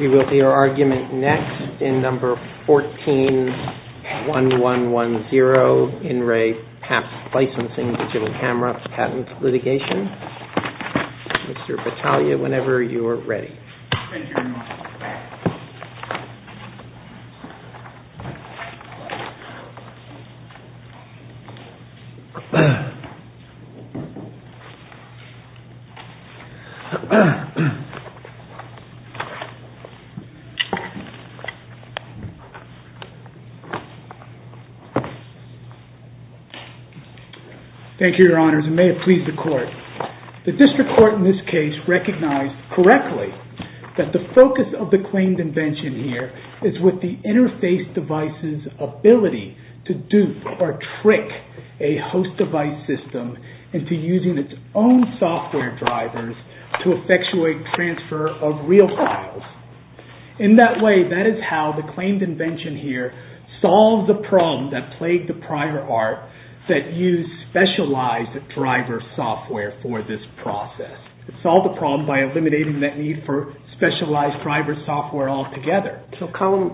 We will see our argument next in number 14-1110. Pro In-Ray Papp Licensing Digital Camera Patent Litigation. Thank you, Your Honors, and may it please the Court. The District Court in this case recognized correctly that the focus of the claimed invention here is with the interface device's ability to dupe or trick a host device system into using its own software drivers to effectuate transfer of real files. In that way, that is how the claimed invention here solved the problem that plagued the prior art that used specialized driver software for this process. It solved the problem by eliminating that need for specialized driver software altogether. So Column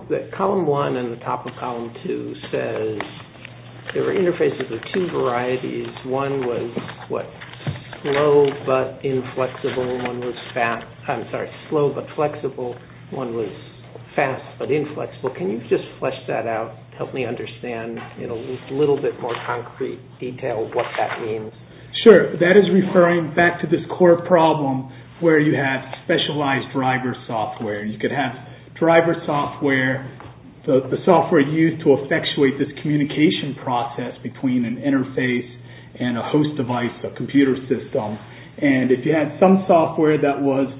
1 and the top of Column 2 says there are interfaces of two varieties. One was slow but flexible, one was fast but inflexible. Can you just flesh that out, help me understand in a little bit more concrete detail what that means? Sure. That is referring back to this core problem where you have specialized driver software. You could have driver software, the software used to effectuate this communication process between an interface and a host device, a computer system. And if you had some software that was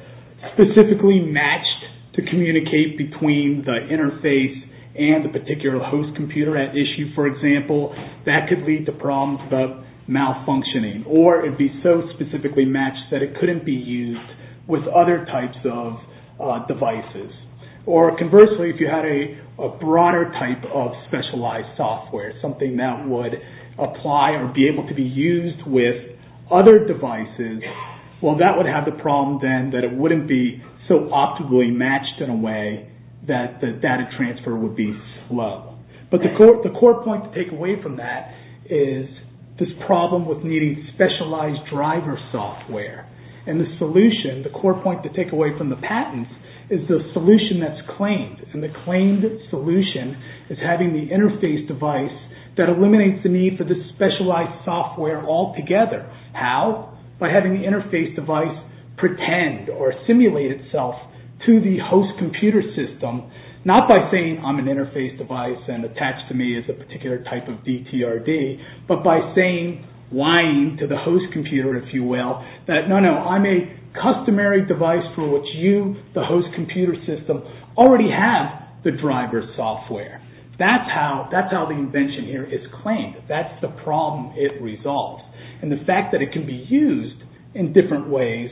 specifically matched to communicate between the interface and the particular host computer at issue, for example, that could lead to problems about malfunctioning. Or it would be so specifically matched that it couldn't be used with other types of devices. Or conversely, if you had a broader type of specialized software, something that would apply or be able to be used with other devices, well that would have the problem then that it wouldn't be so optimally matched in a way that the data transfer would be slow. But the core point to take away from that is this problem with needing specialized driver software. And the solution, the core point to take away from the patents is the solution that's claimed. And the claimed solution is having the interface device that eliminates the need for this specialized software altogether. How? By having the interface device pretend or simulate itself to the host computer system, not by saying I'm an interface device and attached to me is a particular type of DTRD, but by saying, lying to the host computer, if you will, that no, no, I'm a customary device for which you, the host computer system, already have the driver software. That's how the invention here is claimed. That's the problem it resolves. And the fact that it can be used in different ways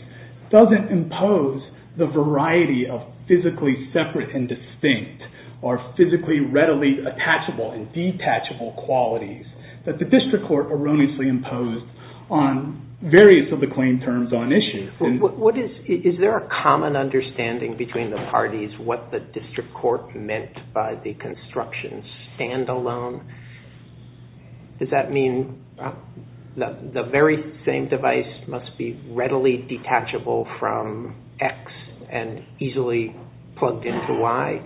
doesn't impose the variety of physically separate and distinct or physically readily attachable and detachable qualities that the district court erroneously imposed on various of the claim terms on issue. Is there a common understanding between the parties what the district court meant by the construction standalone? Does that mean the very same device must be readily detachable from X and easily plugged into Y?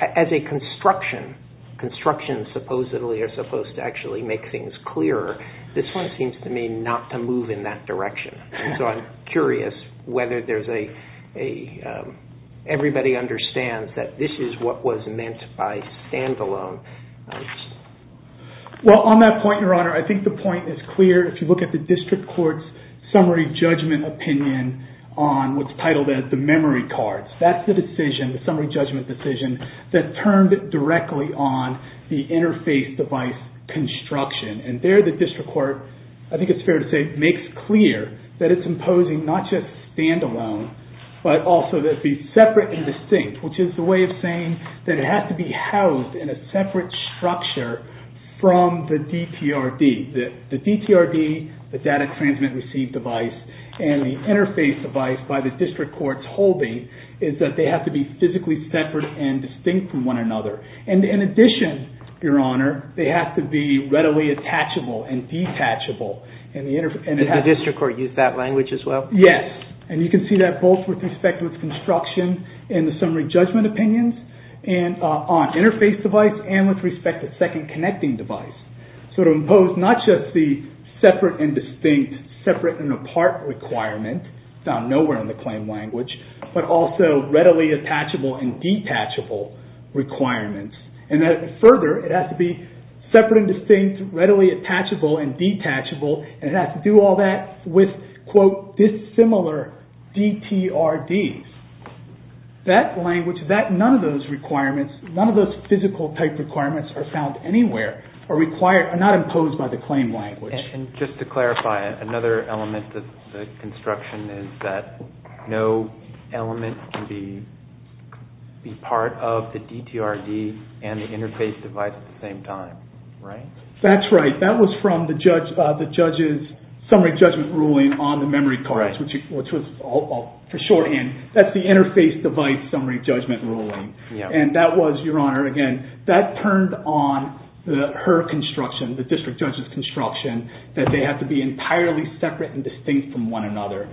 As a construction, constructions supposedly are supposed to actually make things clearer. This one seems to me not to move in that direction. So I'm curious whether everybody understands that this is what was meant by standalone. Well, on that point, Your Honor, I think the point is clear if you look at the district court's summary judgment opinion on what's titled as the memory cards. That's the decision, the summary judgment decision, that turned it directly on the interface device construction. And there the district court, I think it's fair to say, makes clear that it's imposing not just standalone, but also that it be separate and distinct, which is the way of saying that it has to be housed in a separate structure from the DTRD. The DTRD, the data transmit receive device, and the interface device by the district court's holding is that they have to be physically separate and distinct from one another. And in addition, Your Honor, they have to be readily attachable and detachable. And the district court used that language as well? Yes. And you can see that both with respect to its construction and the summary judgment opinions on interface device and with respect to second connecting device. So to impose not just the separate and distinct, separate and apart requirement, found nowhere in the claim language, but also readily attachable and detachable requirements. And further, it has to be separate and distinct, readily attachable and detachable, and it has to do all that with, quote, dissimilar DTRDs. That language, none of those requirements, none of those physical type requirements are found anywhere, are not imposed by the claim language. And just to clarify, another element of the construction is that no element can be part of the DTRD and the interface device at the same time, right? That's right. That was from the judge's summary judgment ruling on the memory cards, which was, for shorthand, that's the interface device summary judgment ruling. And that was, Your Honor, again, that turned on her construction, the district judge's construction, that they have to be entirely separate and distinct from one another.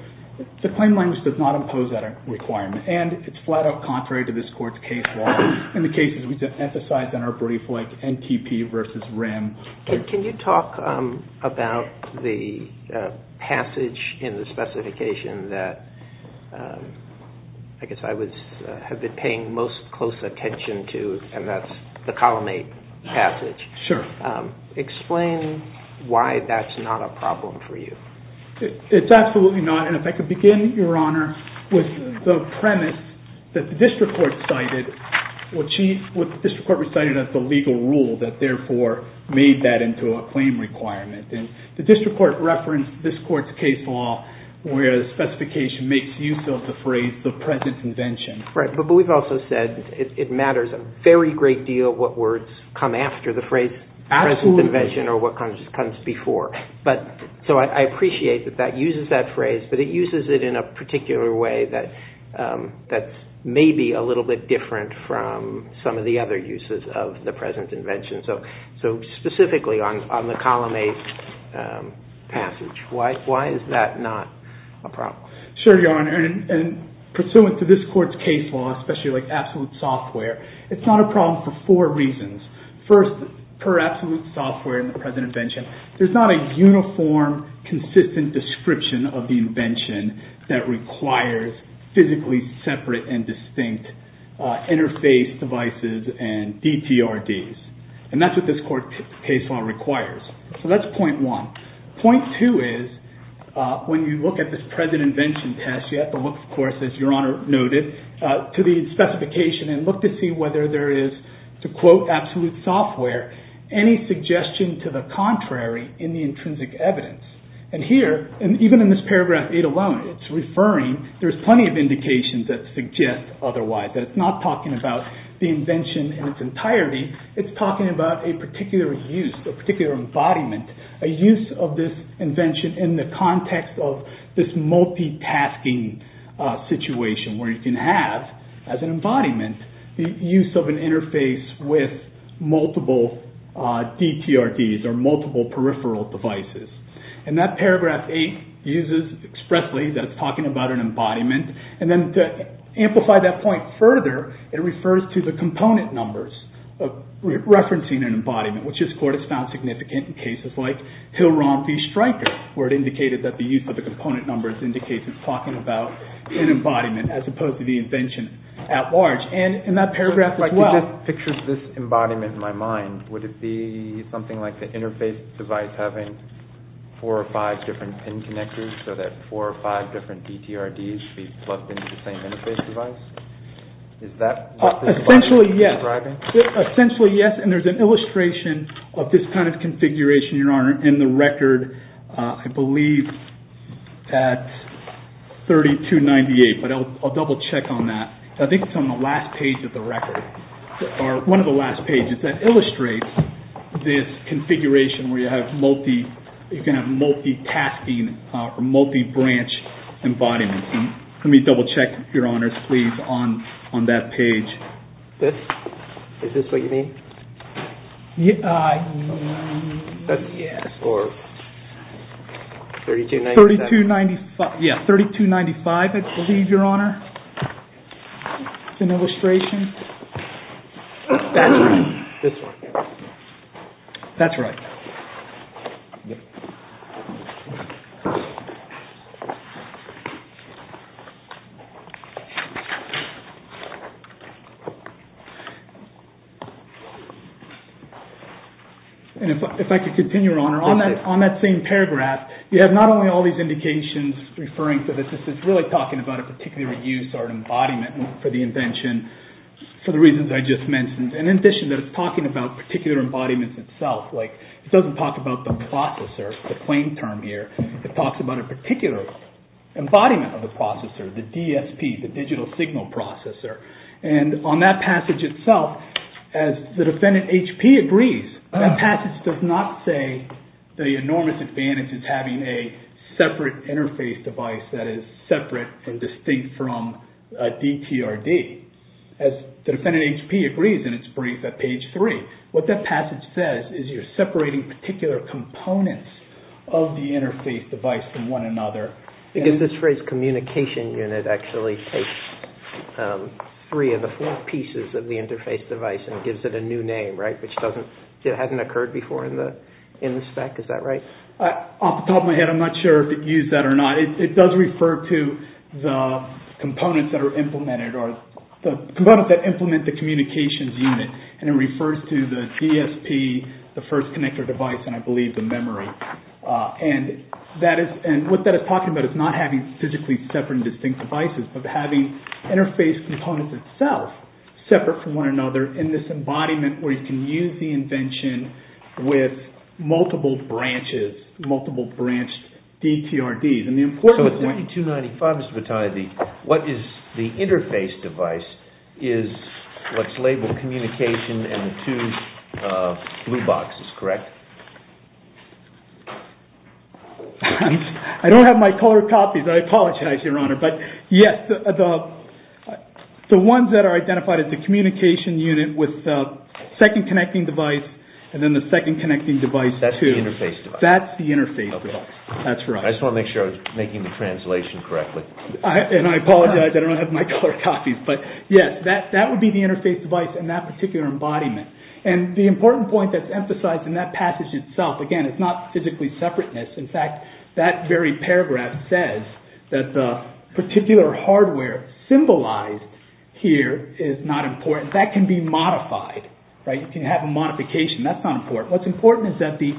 The claim language does not impose that requirement, and it's flat out contrary to this court's case law. In the cases we've emphasized in our brief, like NTP versus RIM. Can you talk about the passage in the specification that I guess I have been paying most close attention to, and that's the Column 8 passage? Sure. Explain why that's not a problem for you. It's absolutely not, and if I could begin, Your Honor, with the premise that the district court cited, what the district court recited as the legal rule that therefore made that into a claim requirement. And the district court referenced this court's case law where the specification makes use of the phrase, the present invention. Right, but we've also said it matters a very great deal what words come after the phrase, present invention, or what comes before. So I appreciate that that uses that phrase, but it uses it in a particular way that's maybe a little bit different from some of the other uses of the present invention. So specifically on the Column 8 passage, why is that not a problem? Sure, Your Honor, and pursuant to this court's case law, especially like absolute software, it's not a problem for four reasons. First, per absolute software in the present invention, there's not a uniform, consistent description of the invention that requires physically separate and distinct interface devices and DTRDs. And that's what this court case law requires. So that's point one. Point two is when you look at this present invention test, you have to look, of course, as Your Honor noted, to the specification and look to see whether there is, to quote absolute software, any suggestion to the contrary in the intrinsic evidence. And here, and even in this paragraph 8 alone, it's referring, there's plenty of indications that suggest otherwise. That it's not talking about the invention in its entirety. It's talking about a particular use, a particular embodiment, a use of this invention in the context of this multitasking situation where you can have, as an embodiment, the use of an interface with multiple DTRDs or multiple peripheral devices. And that paragraph 8 uses expressly that it's talking about an embodiment. And then to amplify that point further, it refers to the component numbers of referencing an embodiment, which this court has found significant in cases like Hill-Ron v. Stryker, where it indicated that the use of the component numbers indicates it's talking about an embodiment as opposed to the invention at large. And in that paragraph as well. If I could just picture this embodiment in my mind, would it be something like the interface device having four or five different pin connectors so that four or five different DTRDs could be plugged into the same interface device? Is that what this embodiment is describing? Essentially, yes. And there's an illustration of this kind of configuration, Your Honor, in the record, I believe, at 3298. But I'll double check on that. I think it's on the last page of the record, or one of the last pages, that illustrates this configuration where you can have multi-tasking or multi-branch embodiments. Let me double check, Your Honor, please, on that page. This? Is this what you mean? Yes. Or 3295? Yes, 3295, I believe, Your Honor. It's an illustration. That's right. Yep. And if I could continue, Your Honor, on that same paragraph, you have not only all these indications referring to this, this is really talking about a particular use or an embodiment for the invention for the reasons I just mentioned. And in addition, it's talking about particular embodiments itself. It doesn't talk about the processor, the plain term here. It talks about a particular embodiment of the processor, the DSP, the digital signal processor. And on that passage itself, as the defendant, H.P., agrees, that passage does not say the enormous advantage of having a separate interface device that is separate and distinct from a DTRD. As the defendant, H.P., agrees in its brief at page three, what that passage says is you're separating particular components of the interface device from one another. Because this phrase, communication unit, actually takes three of the four pieces of the interface device and gives it a new name, right, which hasn't occurred before in the spec, is that right? Off the top of my head, I'm not sure if it used that or not. But it does refer to the components that are implemented or the components that implement the communications unit. And it refers to the DSP, the first connector device, and I believe the memory. And what that is talking about is not having physically separate and distinct devices, but having interface components itself separate from one another in this embodiment where you can use the invention with multiple branches, multiple branch DTRDs. So at 2295, Mr. Battaglia, what is the interface device is what's labeled communication and the two blue boxes, correct? I don't have my color copies. I apologize, Your Honor. But yes, the ones that are identified as the communication unit with the second connecting device and then the second connecting device. That's the interface device. That's the interface device. That's right. I just want to make sure I was making the translation correctly. And I apologize. I don't have my color copies. But yes, that would be the interface device in that particular embodiment. And the important point that's emphasized in that passage itself, again, it's not physically separateness. In fact, that very paragraph says that the particular hardware symbolized here is not important. That can be modified, right? You can have a modification. That's not important. What's important is that the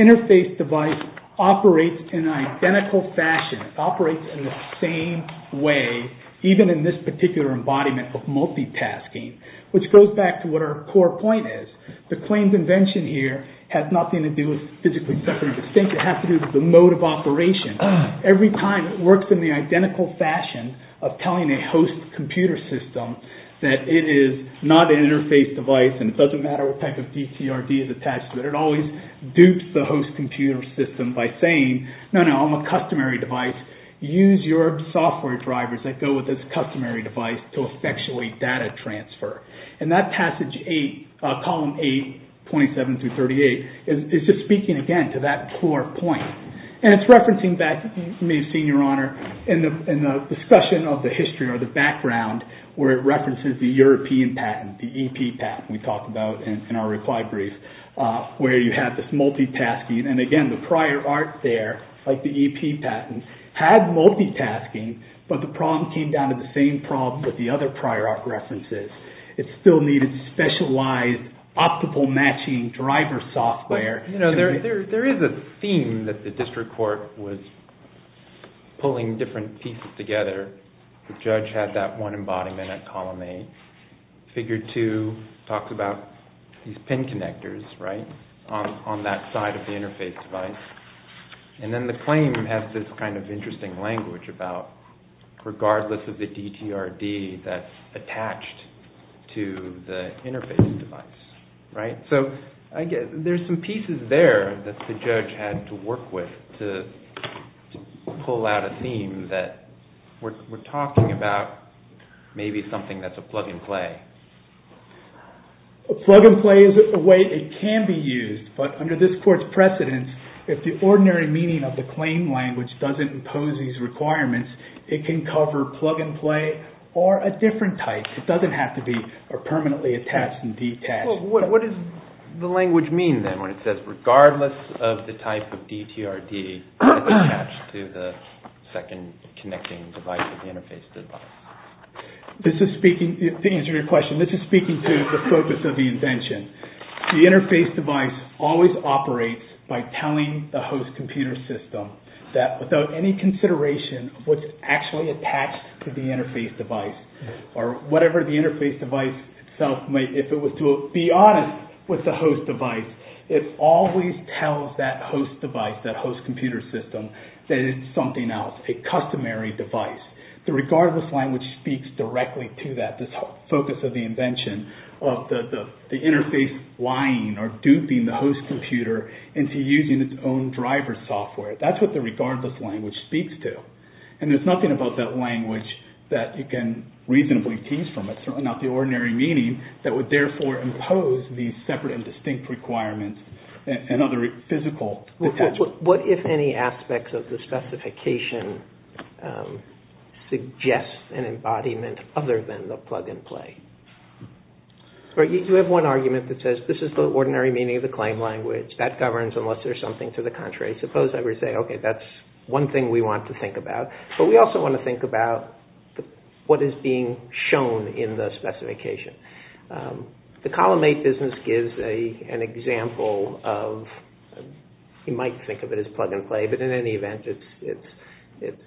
interface device operates in an identical fashion. It operates in the same way, even in this particular embodiment of multitasking, which goes back to what our core point is. The claims invention here has nothing to do with physically separateness. It has to do with the mode of operation. Every time it works in the identical fashion of telling a host computer system that it is not an interface device and it doesn't matter what type of DCRD is attached to it. It always dupes the host computer system by saying, no, no, I'm a customary device. Use your software drivers that go with this customary device to effectually data transfer. And that passage 8, column 8, 27 through 38, is just speaking again to that core point. And it's referencing back, you may have seen, Your Honor, in the discussion of the history or the background where it references the European patent, the EP patent we talked about in our reply brief, where you have this multitasking. And again, the prior art there, like the EP patent, had multitasking, but the problem came down to the same problem that the other prior art references. It still needed specialized optical matching driver software. There is a theme that the district court was pulling different pieces together. The judge had that one embodiment at column 8. Figure 2 talks about these pin connectors on that side of the interface device. And then the claim has this kind of interesting language about, regardless of the DTRD that's attached to the interface device. So there's some pieces there that the judge had to work with to pull out a theme that we're talking about maybe something that's a plug-and-play. A plug-and-play is a way it can be used, but under this court's precedence, if the ordinary meaning of the claim language doesn't impose these requirements, it can cover plug-and-play or a different type. It doesn't have to be permanently attached and detached. What does the language mean then when it says, regardless of the type of DTRD that's attached to the second connecting device of the interface device? To answer your question, this is speaking to the purpose of the invention. The interface device always operates by telling the host computer system that without any consideration of what's actually attached to the interface device or whatever the interface device itself may, if it was to be honest with the host device, it always tells that host device, that host computer system, that it's something else, a customary device. The regardless language speaks directly to that, this focus of the invention of the interface lying or duping the host computer into using its own driver software. That's what the regardless language speaks to. There's nothing about that language that you can reasonably tease from it, certainly not the ordinary meaning, that would therefore impose these separate and distinct requirements and other physical attachments. What if any aspects of the specification suggests an embodiment other than the plug-and-play? You have one argument that says, this is the ordinary meaning of the claim language, that governs unless there's something to the contrary. I suppose I would say, okay, that's one thing we want to think about, but we also want to think about what is being shown in the specification. The Column 8 business gives an example of, you might think of it as plug-and-play, but in any event, it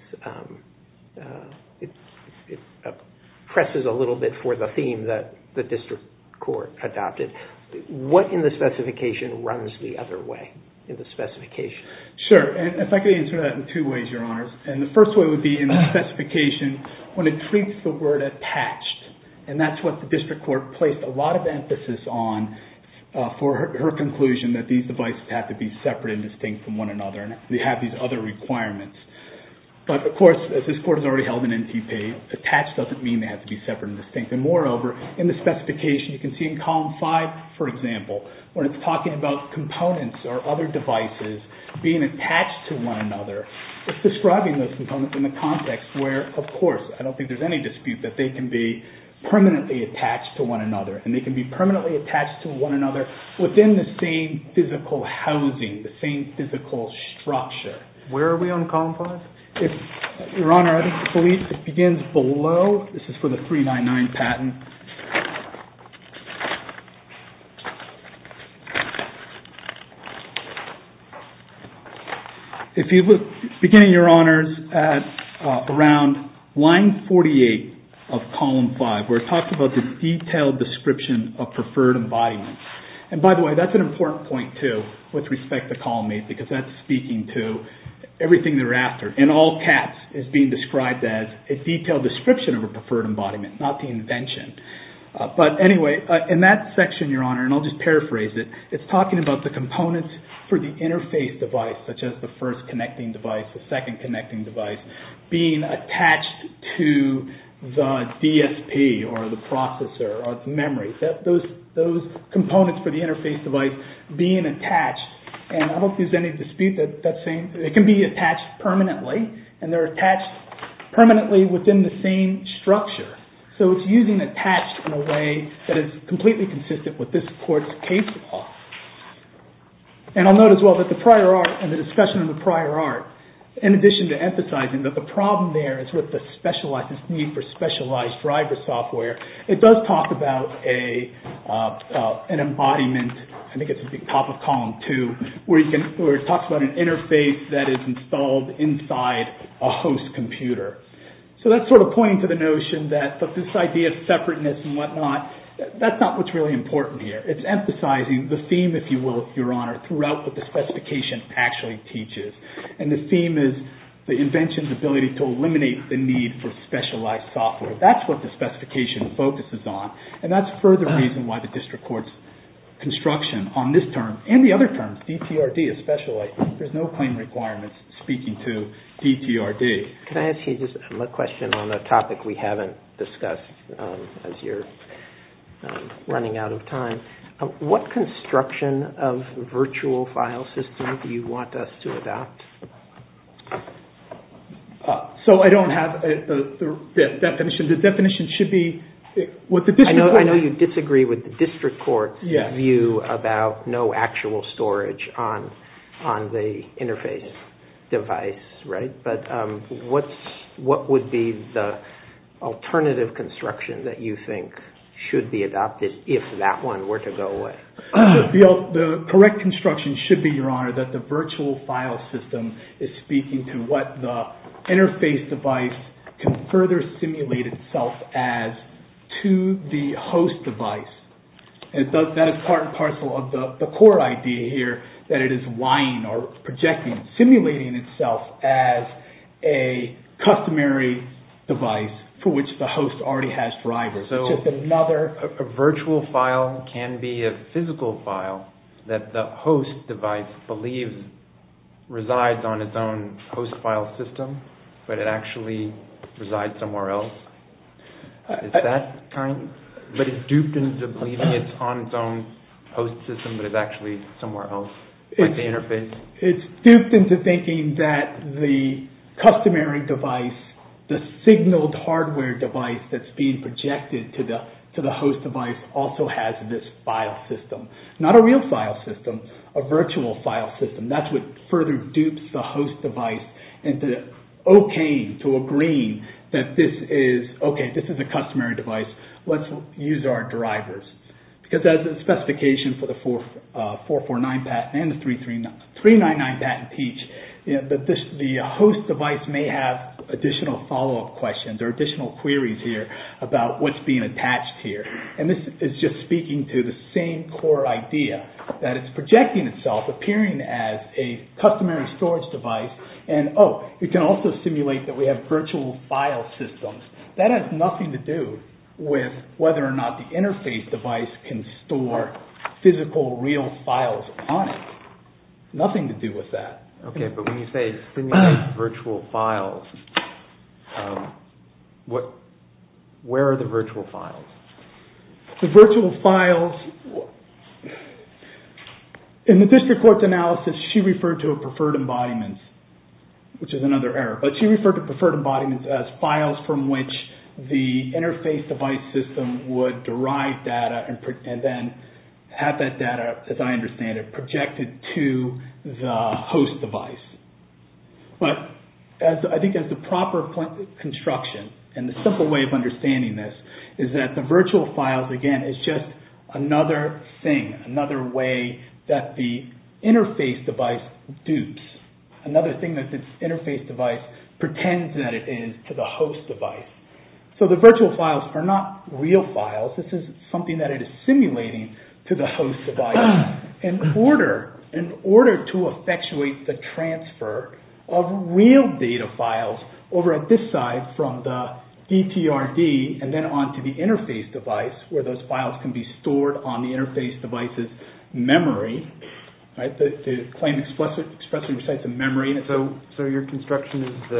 presses a little bit for the theme that the district court adopted. What in the specification runs the other way? If I could answer that in two ways, Your Honors. The first way would be in the specification, when it treats the word attached, and that's what the district court placed a lot of emphasis on for her conclusion that these devices have to be separate and distinct from one another and they have these other requirements. Of course, as this court has already held in NTP, attached doesn't mean they have to be separate and distinct. Moreover, in the specification, you can see in Column 5, for example, when it's talking about components or other devices being attached to one another, it's describing those components in the context where, of course, I don't think there's any dispute that they can be permanently attached to one another and they can be permanently attached to one another within the same physical housing, the same physical structure. Where are we on Column 5? Your Honor, I believe it begins below. This is for the 399 patent. Beginning, Your Honors, around line 48 of Column 5, where it talks about the detailed description of preferred embodiments. By the way, that's an important point, too, with respect to Column 8 because that's speaking to everything they're after. In all caps, it's being described as a detailed description of a preferred embodiment, not the invention. But anyway, in that section, Your Honor, and I'll just paraphrase it, it's talking about the components for the interface device, such as the first connecting device, the second connecting device, being attached to the DSP or the processor or the memory. Those components for the interface device being attached, and I don't think there's any dispute that that's saying that it can be attached permanently, and they're attached permanently within the same structure. So it's using attached in a way that is completely consistent with this Court's case law. And I'll note, as well, that the prior art and the discussion of the prior art, in addition to emphasizing that the problem there is with this need for specialized driver software, it does talk about an embodiment, I think it's at the top of column two, where it talks about an interface that is installed inside a host computer. So that's sort of pointing to the notion that this idea of separateness and whatnot, that's not what's really important here. It's emphasizing the theme, if you will, Your Honor, throughout what the specification actually teaches. And the theme is the invention's ability to eliminate the need for specialized software. That's what the specification focuses on. And that's a further reason why the District Court's construction on this term, and the other terms, DTRD especially, there's no claim requirements speaking to DTRD. Can I ask you a question on a topic we haven't discussed, as you're running out of time? What construction of virtual file systems do you want us to adopt? So I don't have the definition. I know you disagree with the District Court's view about no actual storage on the interface device, right? But what would be the alternative construction that you think should be adopted, if that one were to go away? The correct construction should be, Your Honor, that the virtual file system is speaking to what the interface device can further simulate itself as to the host device. That is part and parcel of the core idea here, that it is lying or projecting, simulating itself as a customary device for which the host already has drivers. So a virtual file can be a physical file that the host device believes resides on its own host file system, but it actually resides somewhere else? Is that kind of... But it's duped into believing it's on its own host system, but it's actually somewhere else with the interface? It's duped into thinking that the customary device, the signaled hardware device that's being projected to the host device, also has this file system. Not a real file system, a virtual file system. That's what further dupes the host device into okaying, to agreeing, that this is a customary device. Let's use our drivers. Because as the specification for the 449 patent and the 399 patent teach, the host device may have additional follow-up questions or additional queries here about what's being attached here. And this is just speaking to the same core idea, that it's projecting itself, appearing as a customary storage device, and oh, it can also simulate that we have virtual file systems. That has nothing to do with whether or not the interface device can store physical, real files on it. Nothing to do with that. Okay, but when you say simulate virtual files, where are the virtual files? The virtual files, in the district court's analysis, she referred to a preferred embodiment, which is another error. But she referred to preferred embodiments as files from which the interface device system would derive data and then have that data, as I understand it, projected to the host device. But I think as the proper construction, and the simple way of understanding this, is that the virtual files, again, is just another thing, another way that the interface device dupes. Another thing that this interface device pretends that it is to the host device. So the virtual files are not real files. This is something that it is simulating to the host device in order to effectuate the transfer of real data files over at this side from the DTRD and then on to the interface device where those files can be stored on the interface device's memory. To claim expressly besides the memory. So your construction is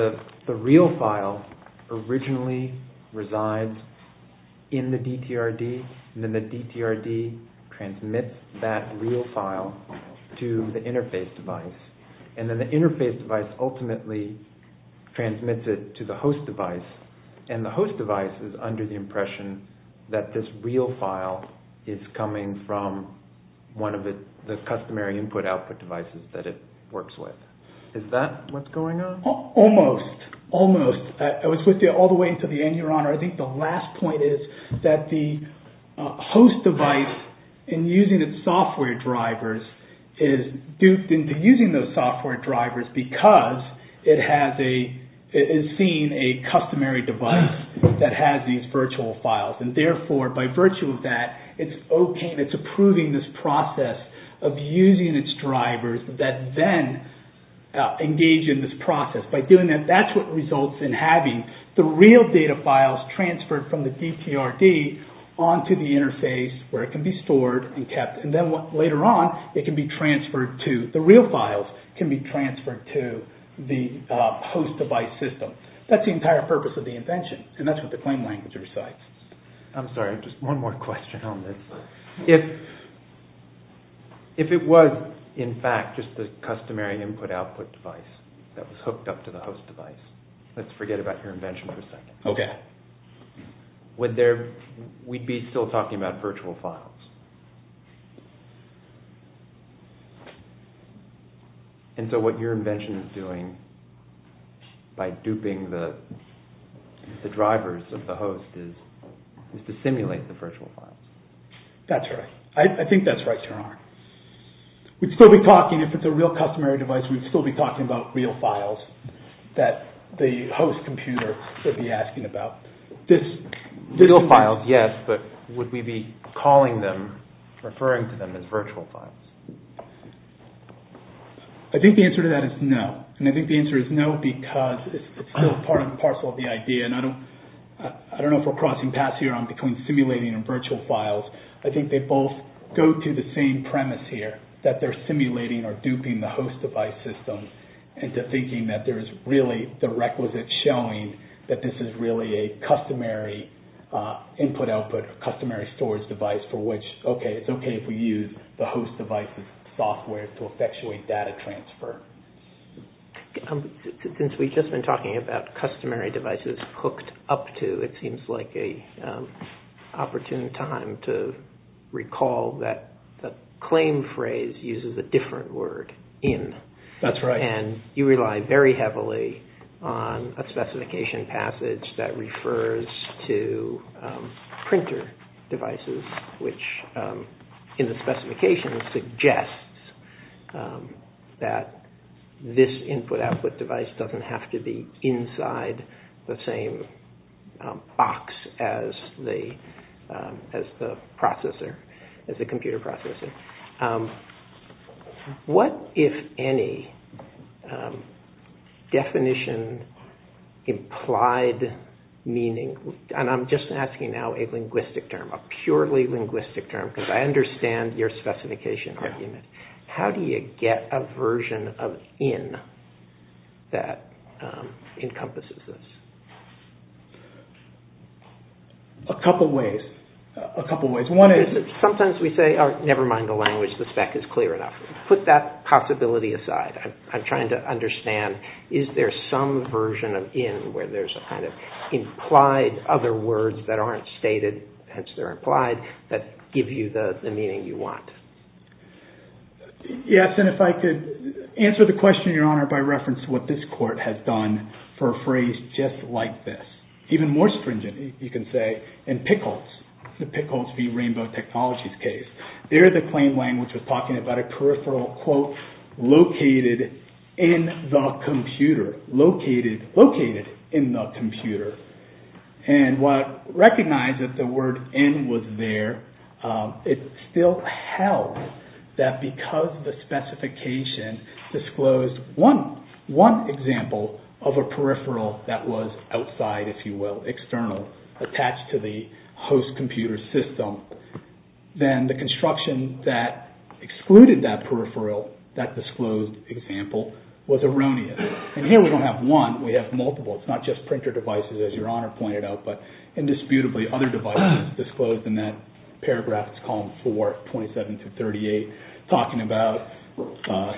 the real file originally resides in the DTRD and then the DTRD transmits that real file to the interface device. And then the interface device ultimately transmits it to the host device. And the host device is under the impression that this real file is coming from one of the customary input-output devices that it works with. Is that what's going on? Almost. Almost. I was with you all the way until the end, Your Honor. I think the last point is that the host device, in using its software drivers, is duped into using those software drivers because it is seeing a customary device that has these virtual files. And therefore, by virtue of that, it's OK and it's approving this process of using its drivers that then engage in this process. By doing that, that's what results in having the real data files transferred from the DTRD on to the interface where it can be stored and kept. And then later on, the real files can be transferred to the host device system. That's the entire purpose of the invention, and that's what the claim language recites. I'm sorry, just one more question on this. If it was, in fact, just a customary input-output device that was hooked up to the host device, let's forget about your invention for a second. OK. We'd be still talking about virtual files. And so what your invention is doing by duping the drivers of the host is to simulate the virtual files. That's right. I think that's right, Your Honor. We'd still be talking, if it's a real customary device, we'd still be talking about real files that the host computer would be asking about. Real files, yes, but would we be calling them, referring to them as virtual files? I think the answer to that is no. And I think the answer is no because it's still part and parcel of the idea, and I don't know if we're crossing paths here on between simulating and virtual files. I think they both go to the same premise here, that they're simulating or duping the host device system into thinking that there's really the requisite showing that this is really a customary input-output or customary storage device for which, OK, it's OK if we use the host device's software to effectuate data transfer. Since we've just been talking about customary devices hooked up to, it seems like an opportune time to recall that the claim phrase uses a different word, in. That's right. And you rely very heavily on a specification passage that refers to printer devices, which in the specification suggests that this input-output device doesn't have to be inside the same box as the computer processor. What, if any, definition implied meaning, and I'm just asking now a linguistic term, a purely linguistic term, because I understand your specification argument. How do you get a version of in that encompasses this? A couple ways. Sometimes we say, never mind the language, the spec is clear enough. Put that possibility aside. I'm trying to understand, is there some version of in where there's a kind of implied other words that aren't stated, hence they're implied, that give you the meaning you want? Yes, and if I could answer the question, Your Honor, by reference to what this court has done for a phrase just like this. Even more stringent, you can say, in Pickles. The Pickles v. Rainbow Technologies case. There the claim language was talking about a peripheral, quote, located in the computer. Located, located in the computer. And what recognized that the word in was there, it still held that because the specification disclosed one example of a peripheral that was outside, if you will, external, attached to the host computer system, then the construction that excluded that peripheral, that disclosed example, was erroneous. And here we don't have one, we have multiple. It's not just printer devices, as Your Honor pointed out, but indisputably other devices disclosed in that paragraph, it's column 4, 27-38, talking about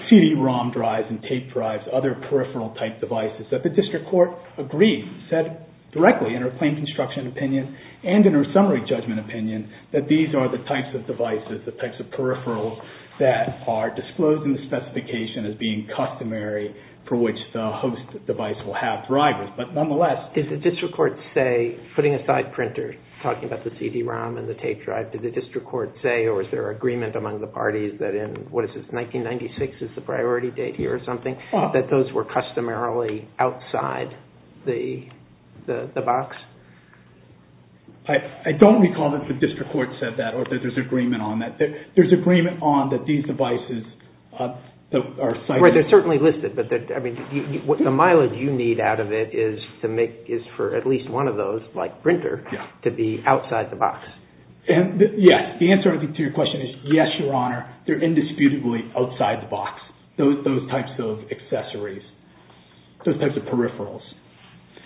CD-ROM drives and tape drives, other peripheral type devices that the district court agreed, said directly in her plain construction opinion and in her summary judgment opinion, that these are the types of devices, the types of peripherals that are disclosed in the specification as being customary for which the host device will have drivers. But nonetheless... Did the district court say, putting aside printer, talking about the CD-ROM and the tape drive, did the district court say or is there agreement among the parties that in, what is this, 1996 is the priority date here or something, that those were customarily outside the box? I don't recall that the district court said that or that there's agreement on that. There's agreement on that these devices are... Right, they're certainly listed, but I mean, the mileage you need out of it is for at least one of those, like printer, to be outside the box. Yes, the answer to your question is yes, Your Honor, they're indisputably outside the box, those types of accessories, those types of peripherals.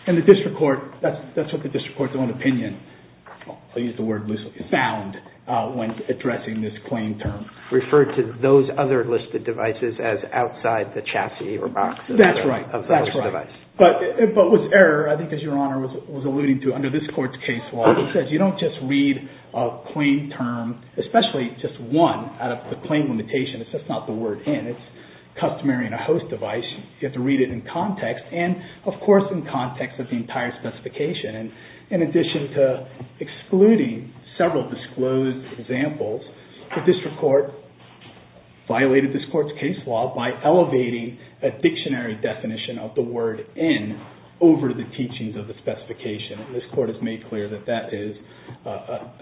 And the district court, that's what the district court's own opinion, I'll use the word loosely, found when addressing this claim term. Referred to those other listed devices as outside the chassis or boxes. That's right, that's right. But with error, I think as Your Honor was alluding to, under this court's case law, he says you don't just read a claim term, especially just one out of the claim limitation, it's just not the word in. It's customary in a host device, you have to read it in context and, of course, in context of the entire specification. And in addition to excluding several disclosed examples, the district court violated this court's case law by elevating a dictionary definition of the word in over the teachings of the specification. And this court has made clear that that is a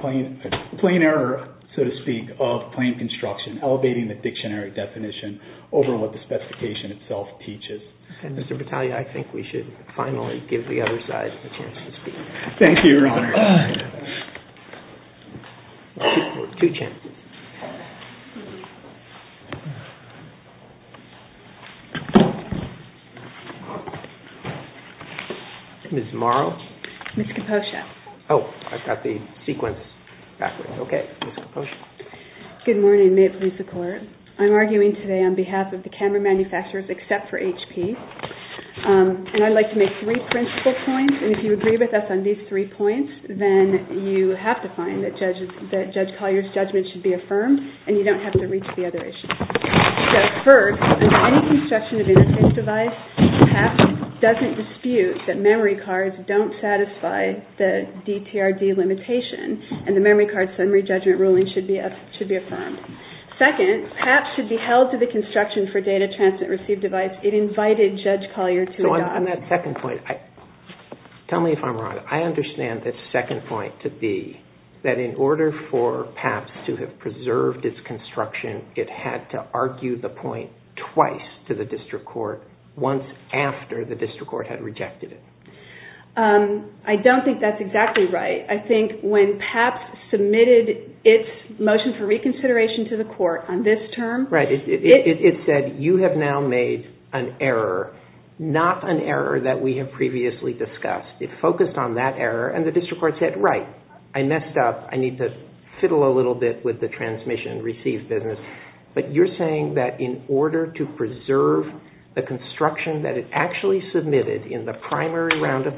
plain error, so to speak, of claim construction, elevating the dictionary definition over what the specification itself teaches. Mr. Battaglia, I think we should finally give the other side a chance to speak. Thank you, Your Honor. Two chances. Ms. Morrow? Ms. Kaposha. Oh, I've got the sequence backwards. Okay. Ms. Kaposha. Good morning. May it please the Court. I'm arguing today on behalf of the camera manufacturers except for HP, and I'd like to make three principal points, and if you agree with us on these three points, then you have to find that Judge Collier's judgment should be affirmed, and you don't have to reach the other issues. First, under any construction of interface device, PAP doesn't dispute that memory cards don't satisfy the DTRD limitation, and the memory card summary judgment ruling should be affirmed. Second, PAP should be held to the construction for data transmit-receive device. It invited Judge Collier to adopt. On that second point, tell me if I'm wrong. I understand the second point to be that in order for PAP to have preserved its construction, it had to argue the point twice to the district court once after the district court had rejected it. I don't think that's exactly right. I think when PAP submitted its motion for reconsideration to the court on this term, it said you have now made an error, not an error that we have previously discussed. It focused on that error, and the district court said, right, I messed up, I need to fiddle a little bit with the transmission-receive business, but you're saying that in order to preserve the construction that it actually submitted in the primary round of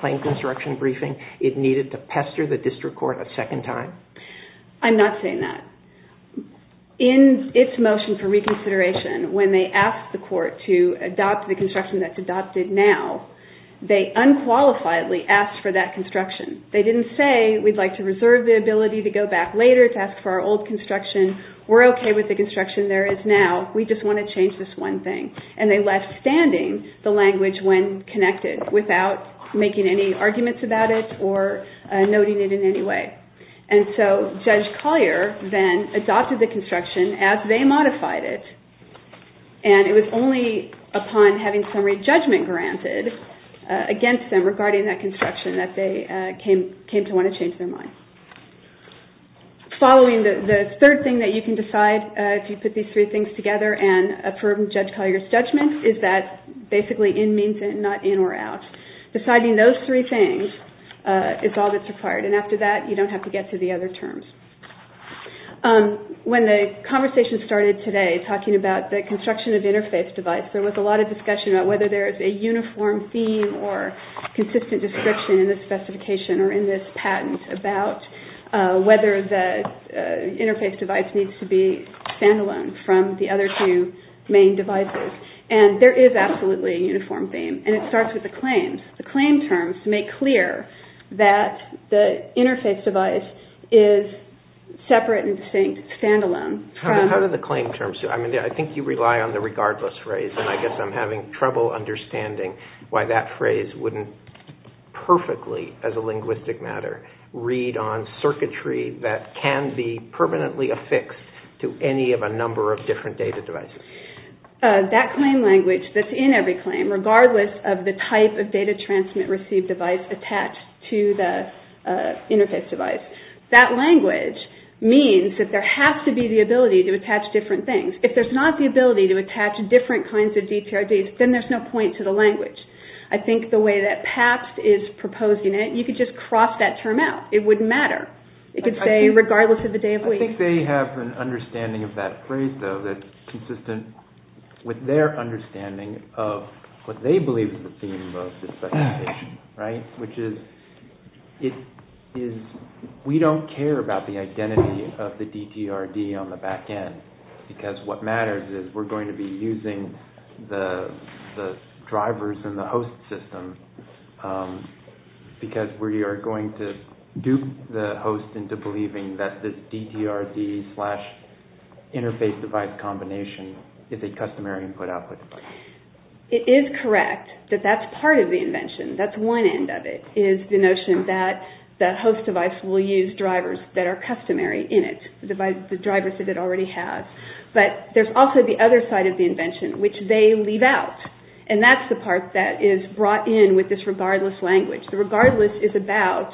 claim construction briefing, it needed to pester the district court a second time? I'm not saying that. In its motion for reconsideration, when they asked the court to adopt the construction that's adopted now, they unqualifiedly asked for that construction. They didn't say we'd like to reserve the ability to go back later to ask for our old construction. We're okay with the construction there is now. We just want to change this one thing. And they left standing the language when connected without making any arguments about it or noting it in any way. And so Judge Collier then adopted the construction as they modified it, and it was only upon having summary judgment granted against them regarding that construction that they came to want to change their mind. The third thing that you can decide if you put these three things together and affirm Judge Collier's judgment is that basically in means in, not in or out. Deciding those three things is all that's required, and after that you don't have to get to the other terms. When the conversation started today talking about the construction of interface device, there was a lot of discussion about whether there is a uniform theme or consistent description in this specification or in this patent about whether the interface device needs to be standalone from the other two main devices. And there is absolutely a uniform theme, and it starts with the claims. The claim terms make clear that the interface device is separate and distinct, standalone. How do the claim terms do? I think you rely on the regardless phrase, and I guess I'm having trouble understanding why that phrase wouldn't perfectly, as a linguistic matter, read on circuitry that can be permanently affixed to any of a number of different data devices. That claim language that's in every claim, regardless of the type of data transmit receive device attached to the interface device, that language means that there has to be the ability to attach different things. If there's not the ability to attach different kinds of DPRDs, then there's no point to the language. I think the way that PAPS is proposing it, you could just cross that term out. It wouldn't matter. It could say regardless of the day of week. I think they have an understanding of that phrase, though, that's consistent with their understanding of what they believe is the theme of this presentation. Which is, we don't care about the identity of the DPRD on the back end, because what matters is we're going to be using the drivers in the host system, because we are going to dupe the host into believing that this DPRD slash interface device combination is a customary input-output device. It is correct that that's part of the invention. That's one end of it, is the notion that the host device will use drivers that are customary in it, the drivers that it already has. But there's also the other side of the invention, which they leave out. And that's the part that is brought in with this regardless language. The regardless is about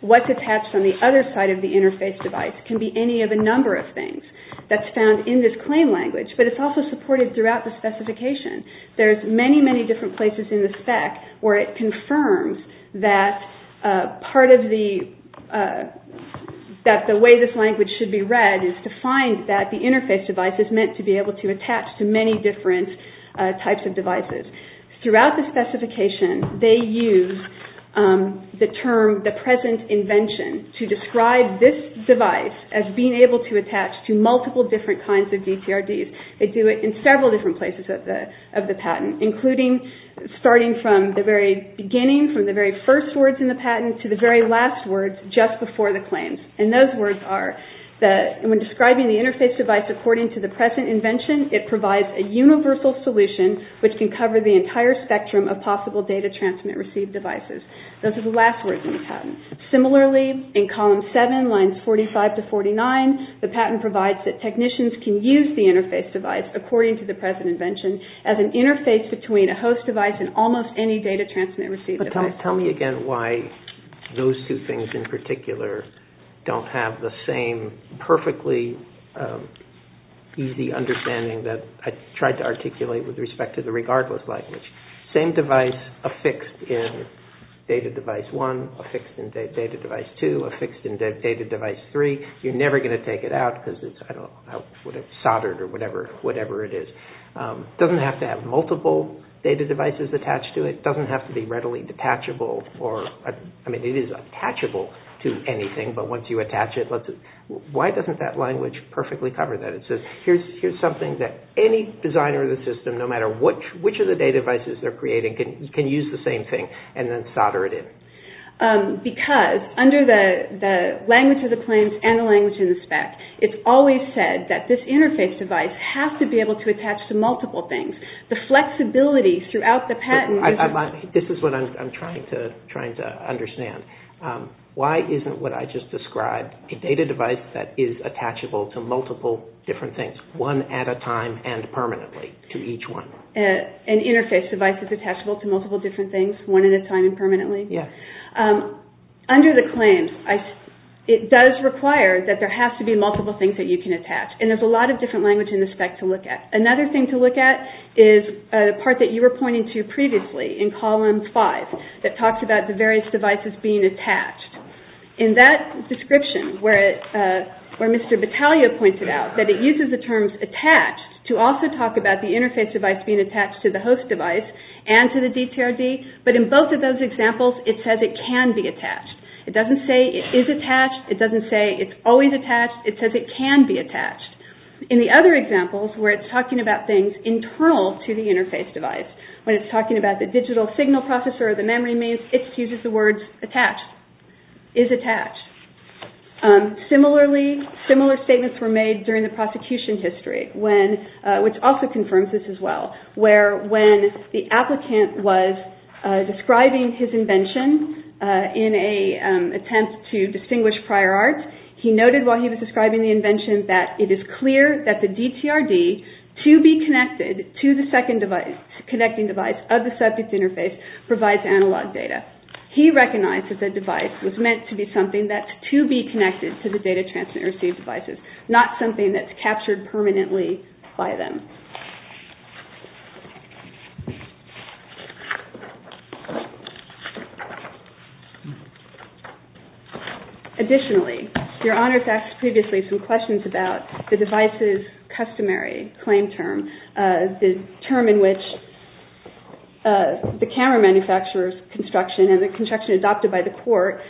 what's attached on the other side of the interface device. It can be any of a number of things that's found in this claim language, but it's also supported throughout the specification. There's many, many different places in the spec where it confirms that part of the way this language should be read is to find that the interface device is meant to be able to attach to many different types of devices. Throughout the specification, they use the term, the present invention, to describe this device as being able to attach to multiple different kinds of DPRDs. They do it in several different places of the patent, including starting from the very beginning, from the very first words in the patent to the very last words just before the claims. And those words are, when describing the interface device according to the present invention, it provides a universal solution which can cover the entire spectrum of possible data transmit-receive devices. Those are the last words in the patent. Similarly, in column 7, lines 45 to 49, the patent provides that technicians can use the interface device according to the present invention as an interface between a host device and almost any data transmit-receive device. Tell me again why those two things in particular don't have the same perfectly easy understanding that I tried to articulate with respect to the regardless language. Same device affixed in data device 1, affixed in data device 2, affixed in data device 3, you're never going to take it out because it's soldered or whatever it is. It doesn't have to have multiple data devices attached to it. It doesn't have to be readily detachable. I mean, it is attachable to anything, but once you attach it, why doesn't that language perfectly cover that? It says, here's something that any designer of the system, no matter which of the data devices they're creating, can use the same thing and then solder it in. Because under the language of the claims and the language in the spec, it's always said that this interface device has to be able to attach to multiple things. The flexibility throughout the patent... This is what I'm trying to understand. Why isn't what I just described a data device that is attachable to multiple different things, one at a time and permanently to each one? An interface device is attachable to multiple different things, one at a time and permanently? Yes. Under the claims, it does require that there has to be multiple things that you can attach, and there's a lot of different language in the spec to look at. Another thing to look at is a part that you were pointing to previously in column five that talks about the various devices being attached. In that description where Mr. Battaglia pointed out that it uses the terms attached to also talk about the interface device being attached to the host device and to the DTRD, but in both of those examples, it says it can be attached. It doesn't say it is attached. It doesn't say it's always attached. It says it can be attached. In the other examples where it's talking about things internal to the interface device, when it's talking about the digital signal processor or the memory maze, it uses the words attached, is attached. Similarly, similar statements were made during the prosecution history, which also confirms this as well, where when the applicant was describing his invention in an attempt to distinguish prior art, he noted while he was describing the invention that it is clear that the DTRD, to be connected to the second device, connecting device of the subject interface, provides analog data. He recognized that the device was meant to be something that's to be connected to the data transmit and receive devices, not something that's captured permanently by them. Additionally, Your Honor has asked previously some questions about the device's customary claim term, the term in which the camera manufacturer's construction and the construction adopted by the court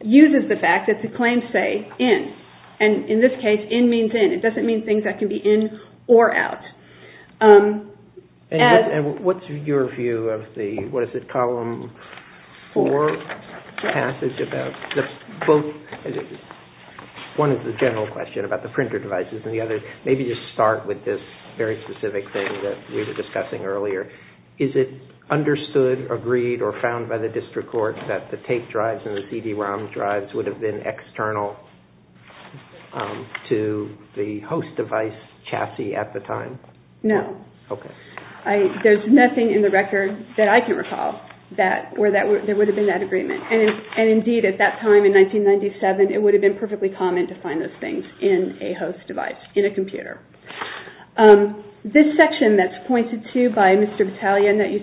uses the fact that the claims say in. In this case, in means in. It doesn't mean things that can be in or out. What's your view of the, what is it, Column 4 passage? One is the general question about the printer devices, and the other, maybe just start with this very specific thing that we were discussing earlier. Is it understood, agreed, or found by the district court that the tape drives and the CD-ROM drives would have been external to the host device chassis at the time? No. Okay. There's nothing in the record that I can recall where there would have been that agreement. Indeed, at that time in 1997, it would have been perfectly common to find those things in a host device, in a computer. This section that's pointed to by Mr. Battaglione that you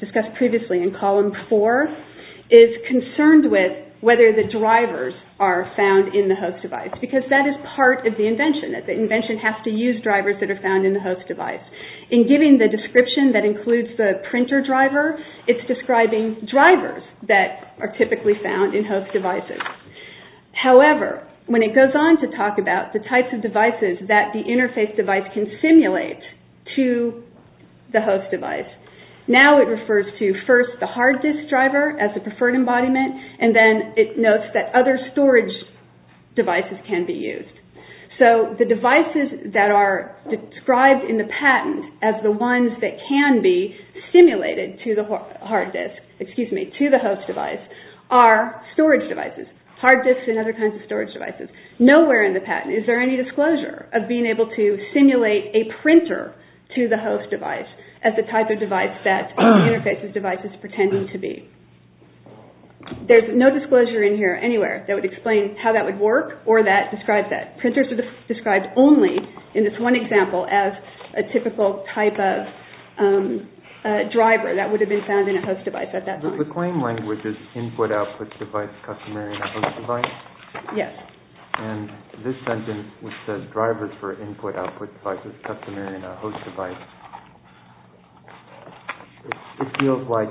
discussed previously in Column 4 is concerned with whether the drivers are found in the host device, because that is part of the invention. The invention has to use drivers that are found in the host device. In giving the description that includes the printer driver, it's describing drivers that are typically found in host devices. However, when it goes on to talk about the types of devices that the interface device can simulate to the host device, now it refers to first the hard disk driver as the preferred embodiment, and then it notes that other storage devices can be used. The devices that are described in the patent as the ones that can be simulated to the host device are storage devices, hard disks and other kinds of storage devices. Nowhere in the patent is there any disclosure of being able to simulate a printer to the host device as the type of device that the interface device is pretending to be. There's no disclosure in here anywhere that would explain how that would work or that describes that. Printers are described only in this one example as a typical type of driver that would have been found in a host device at that time. So the claim language is input, output, device, customary, and a host device? Yes. And this sentence, which says drivers for input, output, device, customary, and a host device, it feels like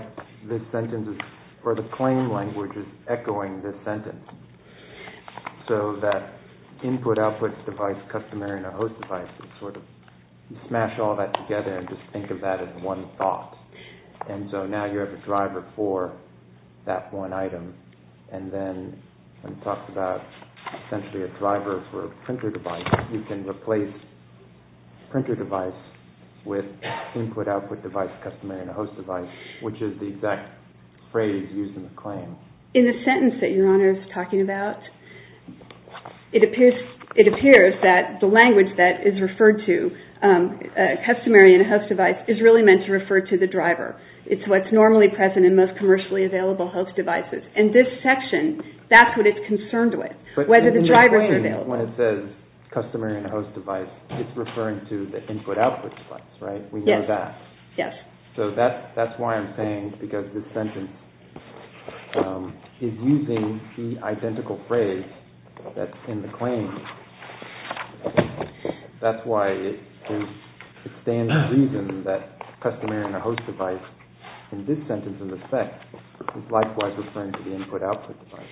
this sentence is, or the claim language is echoing this sentence. So that input, output, device, customary, and a host device is sort of, you smash all that together and just think of that as one thought. And so now you have a driver for that one item. And then when it talks about essentially a driver for a printer device, you can replace printer device with input, output, device, customary, and a host device, which is the exact phrase used in the claim. In the sentence that Your Honor is talking about, it appears that the language that is referred to, customary and a host device, is really meant to refer to the driver. It's what's normally present in most commercially available host devices. And this section, that's what it's concerned with, whether the drivers are available. But in the claim, when it says customary and a host device, it's referring to the input, output, device, right? Yes. We know that. Yes. So that's why I'm saying, because this sentence is using the identical phrase that's in the claim, that's why it stands to reason that customary and a host device, in this sentence in the text, is likewise referring to the input, output, device.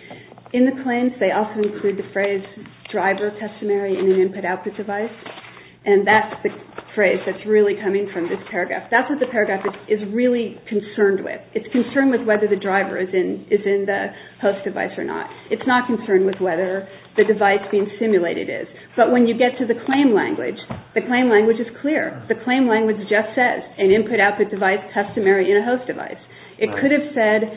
In the claims, they also include the phrase driver, customary, and an input, output device. And that's the phrase that's really coming from this paragraph. That's what the paragraph is really concerned with. It's concerned with whether the driver is in the host device or not. It's not concerned with whether the device being simulated is. But when you get to the claim language, the claim language is clear. The claim language just says an input, output, device, customary, and a host device. It could have said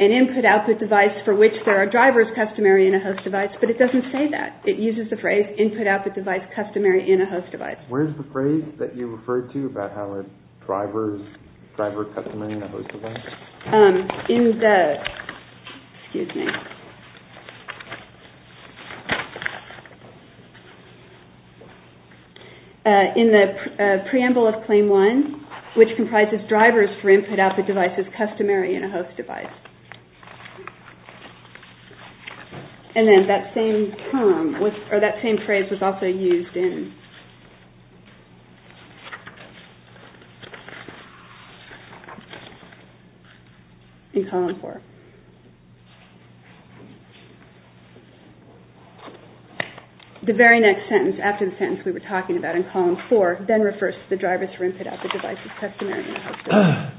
an input, output, device for which there are drivers, customary, and a host device, but it doesn't say that. It uses the phrase input, output, device, customary, and a host device. Where's the phrase that you referred to about how a driver is driver, customary, and a host device? In the preamble of Claim 1, which comprises drivers for input, output, devices, customary, and a host device. And then that same phrase was also used in Column 4. The very next sentence after the sentence we were talking about in Column 4 then refers to the drivers for input, output, devices, customary, and a host device.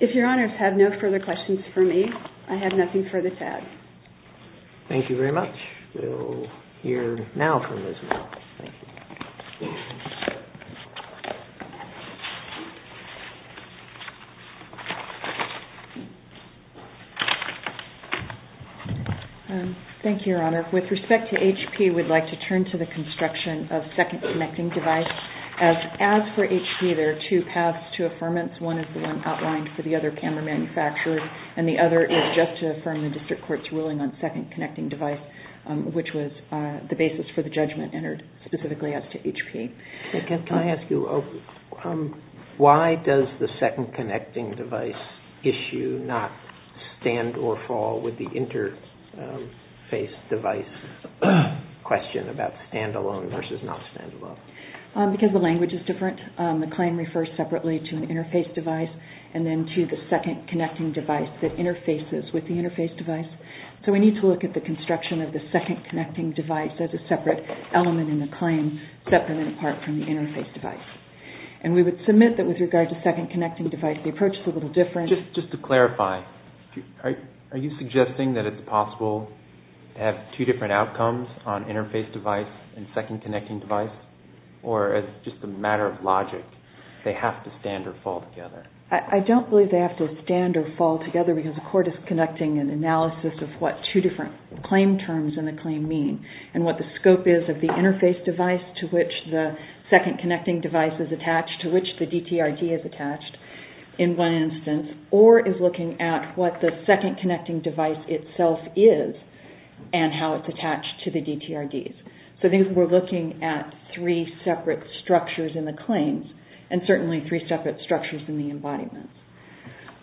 If your honors have no further questions for me, I have nothing further to add. Thank you very much. We'll hear now from Ms. Mel. Thank you, Your Honor. With respect to HP, we'd like to turn to the construction of second connecting device. As for HP, there are two paths to affirmance. One is the one outlined for the other camera manufacturer, and the other is just to affirm the district court's ruling on second connecting device, which was the basis for the judgment entered specifically as to HP. Can I ask you, why does the second connecting device issue not stand or fall with the interface device question about stand-alone versus not stand-alone? Because the language is different. The claim refers separately to an interface device and then to the second connecting device that interfaces with the interface device. So we need to look at the construction of the second connecting device as a separate element in the claim, separate and apart from the interface device. And we would submit that with regard to second connecting device, the approach is a little different. Just to clarify, are you suggesting that it's possible to have two different outcomes on interface device and second connecting device? Or is it just a matter of logic? They have to stand or fall together. I don't believe they have to stand or fall together because the court is conducting an analysis of what two different claim terms in the claim mean and what the scope is of the interface device to which the second connecting device is attached, to which the DTRD is attached in one instance, or is looking at what the second connecting device itself is and how it's attached to the DTRDs. So I think we're looking at three separate structures in the claims and certainly three separate structures in the embodiments.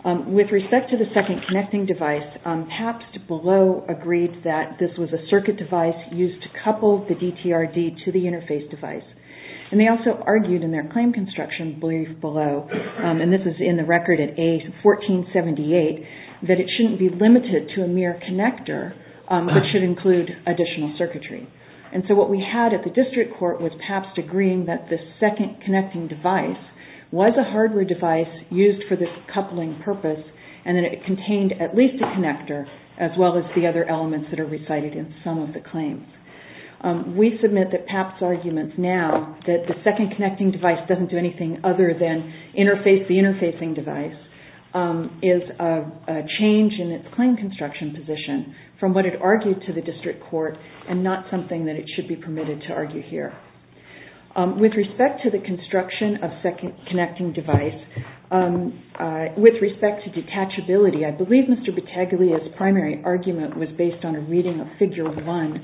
With respect to the second connecting device, Pabst below agreed that this was a circuit device used to couple the DTRD to the interface device. And they also argued in their claim construction brief below, and this is in the record in A1478, that it shouldn't be limited to a mere connector, but should include additional circuitry. And so what we had at the district court was Pabst agreeing that the second connecting device was a hardware device used for this coupling purpose and that it contained at least a connector as well as the other elements that are recited in some of the claims. We submit that Pabst's argument now that the second connecting device doesn't do anything other than interface the interfacing device is a change in its claim construction position from what it argued to the district court and not something that it should be permitted to argue here. With respect to the construction of second connecting device, with respect to detachability, I believe Mr. Battaglia's primary argument was based on a reading of figure one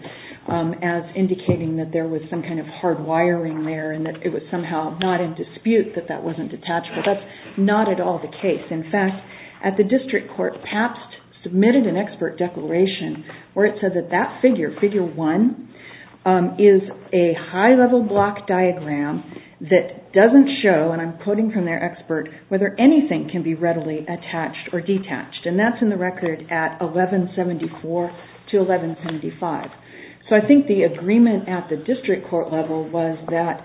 as indicating that there was some kind of hard wiring there and that it was somehow not in dispute that that wasn't detachable. That's not at all the case. In fact, at the district court, Pabst submitted an expert declaration where it said that that figure, figure one, is a high-level block diagram that doesn't show, and I'm quoting from their expert, whether anything can be readily attached or detached. And that's in the record at 1174 to 1175. So I think the agreement at the district court level was that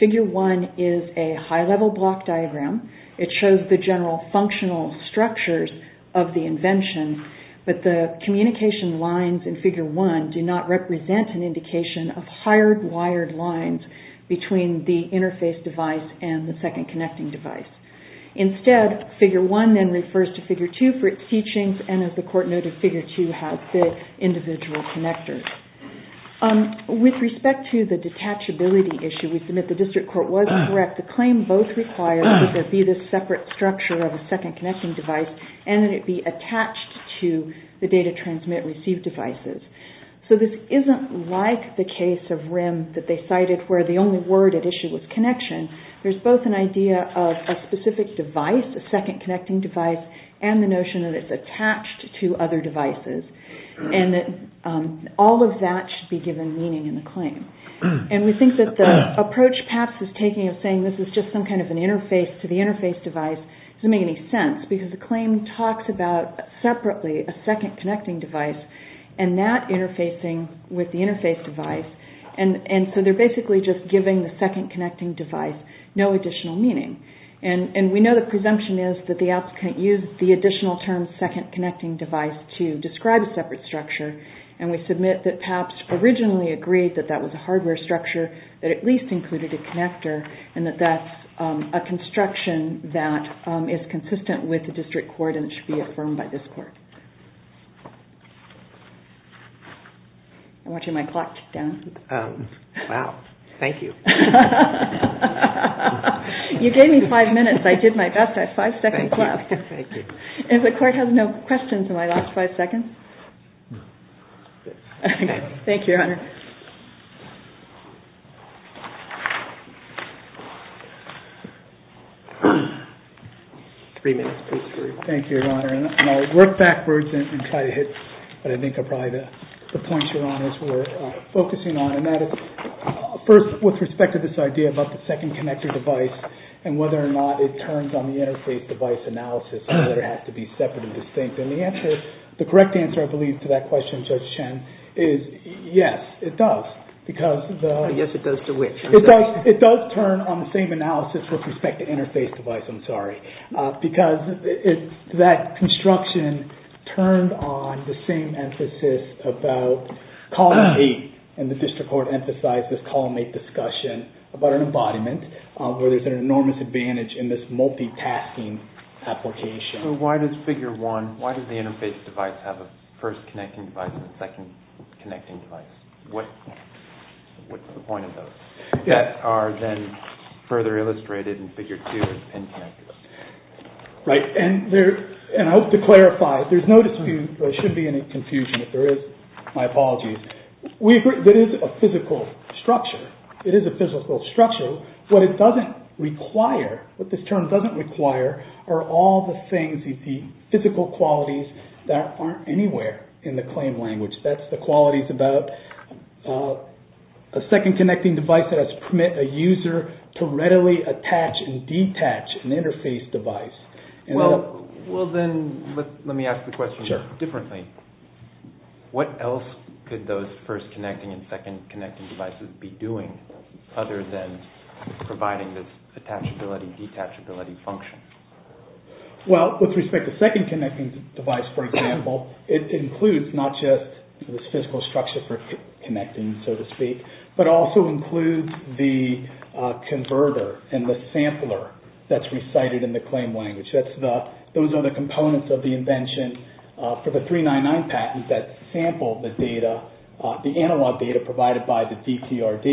figure one is a high-level block diagram. It shows the general functional structures of the invention, but the communication lines in figure one do not represent an indication of hard-wired lines between the interface device and the second connecting device. Instead, figure one then refers to figure two for its teachings and, as the court noted, figure two has the individual connectors. With respect to the detachability issue, we submit the district court was correct. The claim both requires that there be this separate structure of a second connecting device and that it be attached to the data transmit-receive devices. So this isn't like the case of RIM that they cited where the only word at issue was connection. There's both an idea of a specific device, a second connecting device, and the notion that it's attached to other devices and that all of that should be given meaning in the claim. And we think that the approach PAPS is taking of saying this is just some kind of an interface to the interface device doesn't make any sense because the claim talks about separately a second connecting device and that interfacing with the interface device, and so they're basically just giving the second connecting device no additional meaning. And we know the presumption is that the applicant used the additional term second connecting device to describe a separate structure, and we submit that PAPS originally agreed that that was a hardware structure that at least included a connector and that that's a construction that is consistent with the district court and it should be affirmed by this court. I'm watching my clock tick down. Wow, thank you. You gave me five minutes. I did my best. I have five seconds left. And the court has no questions in my last five seconds. Thank you, Your Honor. Three minutes. Thank you, Your Honor. And I'll work backwards and try to hit what I think are probably the points, Your Honors, we're focusing on, and that is first with respect to this idea about the second connector device and whether or not it turns on the interface device analysis and whether it has to be separate and distinct. And the correct answer, I believe, to that question, Judge Chen, is yes, it does. Yes, it does to which? It does turn on the same analysis with respect to interface device, I'm sorry, because that construction turned on the same emphasis about column 8, and the district court emphasized this column 8 discussion about an embodiment where there's an enormous advantage in this multitasking application. So why does figure 1, why does the interface device have a first connecting device and a second connecting device? What's the point of those? That are then further illustrated in figure 2 as pin connectors. Right, and I hope to clarify, there's no dispute, there shouldn't be any confusion, if there is, my apologies. That is a physical structure. It is a physical structure. What it doesn't require, what this term doesn't require, are all the things, the physical qualities that aren't anywhere in the claim language. That's the qualities about a second connecting device that has permit a user to readily attach and detach an interface device. Well then, let me ask the question differently. What else could those first connecting and second connecting devices be doing other than providing this attachability, detachability function? Well, with respect to second connecting device, for example, it includes not just this physical structure for connecting, so to speak, but also includes the converter and the sampler that's recited in the claim language. Those are the components of the invention for the 399 patent that sampled the data, the analog data provided by the DTRD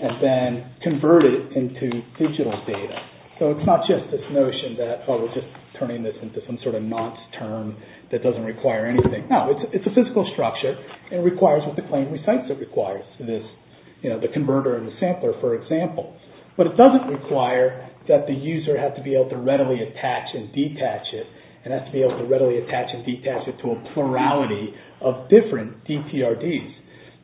and then converted it into digital data. So it's not just this notion that, oh, we're just turning this into some sort of nonce term that doesn't require anything. No, it's a physical structure and requires what the claim recites it requires, the converter and the sampler, for example. But it doesn't require that the user has to be able to readily attach and detach it and has to be able to readily attach and detach it to a plurality of different DTRDs.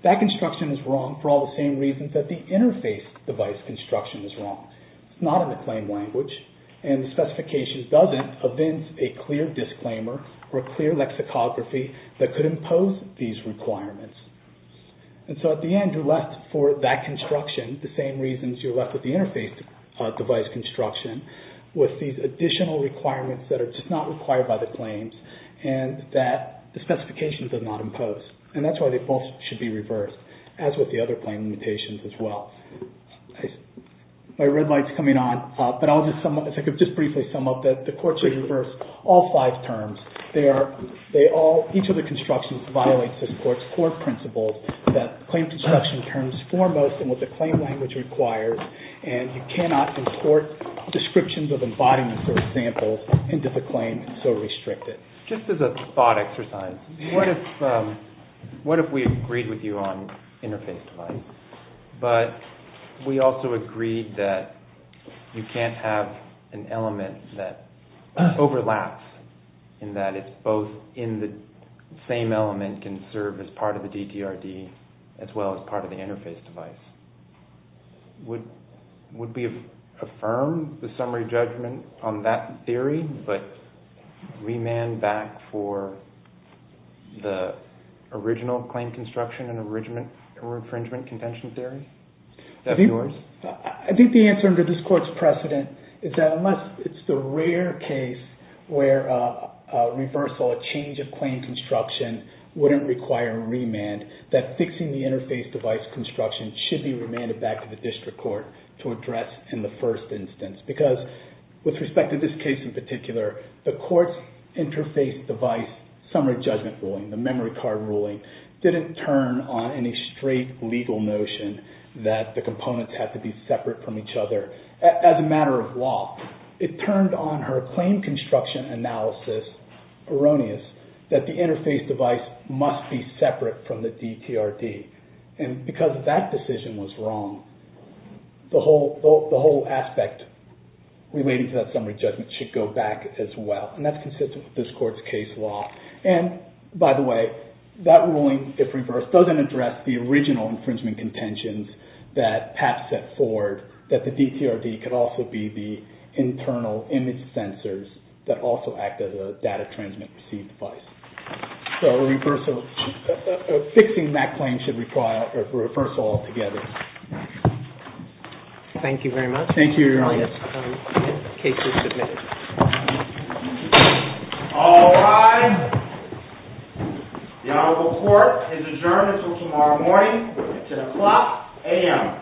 That construction is wrong for all the same reasons that the interface device construction is wrong. It's not in the claim language, and the specification doesn't evince a clear disclaimer or a clear lexicography that could impose these requirements. And so at the end, you're left for that construction, the same reasons you're left with the interface device construction, with these additional requirements that are just not required by the claims and that the specification does not impose. And that's why they both should be reversed, as with the other claim limitations as well. My red light's coming on, but I'll just briefly sum up that the court should reverse all five terms. Each of the constructions violates this court's core principles that claim construction terms foremost in what the claim language requires, and you cannot import descriptions of embodiments or examples into the claim so restricted. Just as a thought exercise, what if we agreed with you on interface device, but we also agreed that you can't have an element that overlaps in that it's both in the same element can serve as part of the DTRD as well as part of the interface device? Would we affirm the summary judgment on that theory, but remand back for the original claim construction and infringement contention theory? I think the answer under this court's precedent is that unless it's the rare case where a reversal, a change of claim construction, wouldn't require a remand, that fixing the interface device construction should be remanded back to the district court to address in the first instance because with respect to this case in particular, the court's interface device summary judgment ruling, the memory card ruling, didn't turn on any straight legal notion that the components have to be separate from each other as a matter of law. It turned on her claim construction analysis, erroneous, that the interface device must be separate from the DTRD, and because that decision was wrong, the whole aspect relating to that summary judgment should go back as well, and that's consistent with this court's case law. And by the way, that ruling, if reversed, doesn't address the original infringement contentions that Pat set forward, that the DTRD could also be the internal image sensors that also act as a data transmit-receive device. So fixing that claim should require a reversal altogether. Thank you very much. Thank you, Your Honor. The case is submitted. All rise. The Honorable Court is adjourned until tomorrow morning. It's at o'clock a.m. Thank you.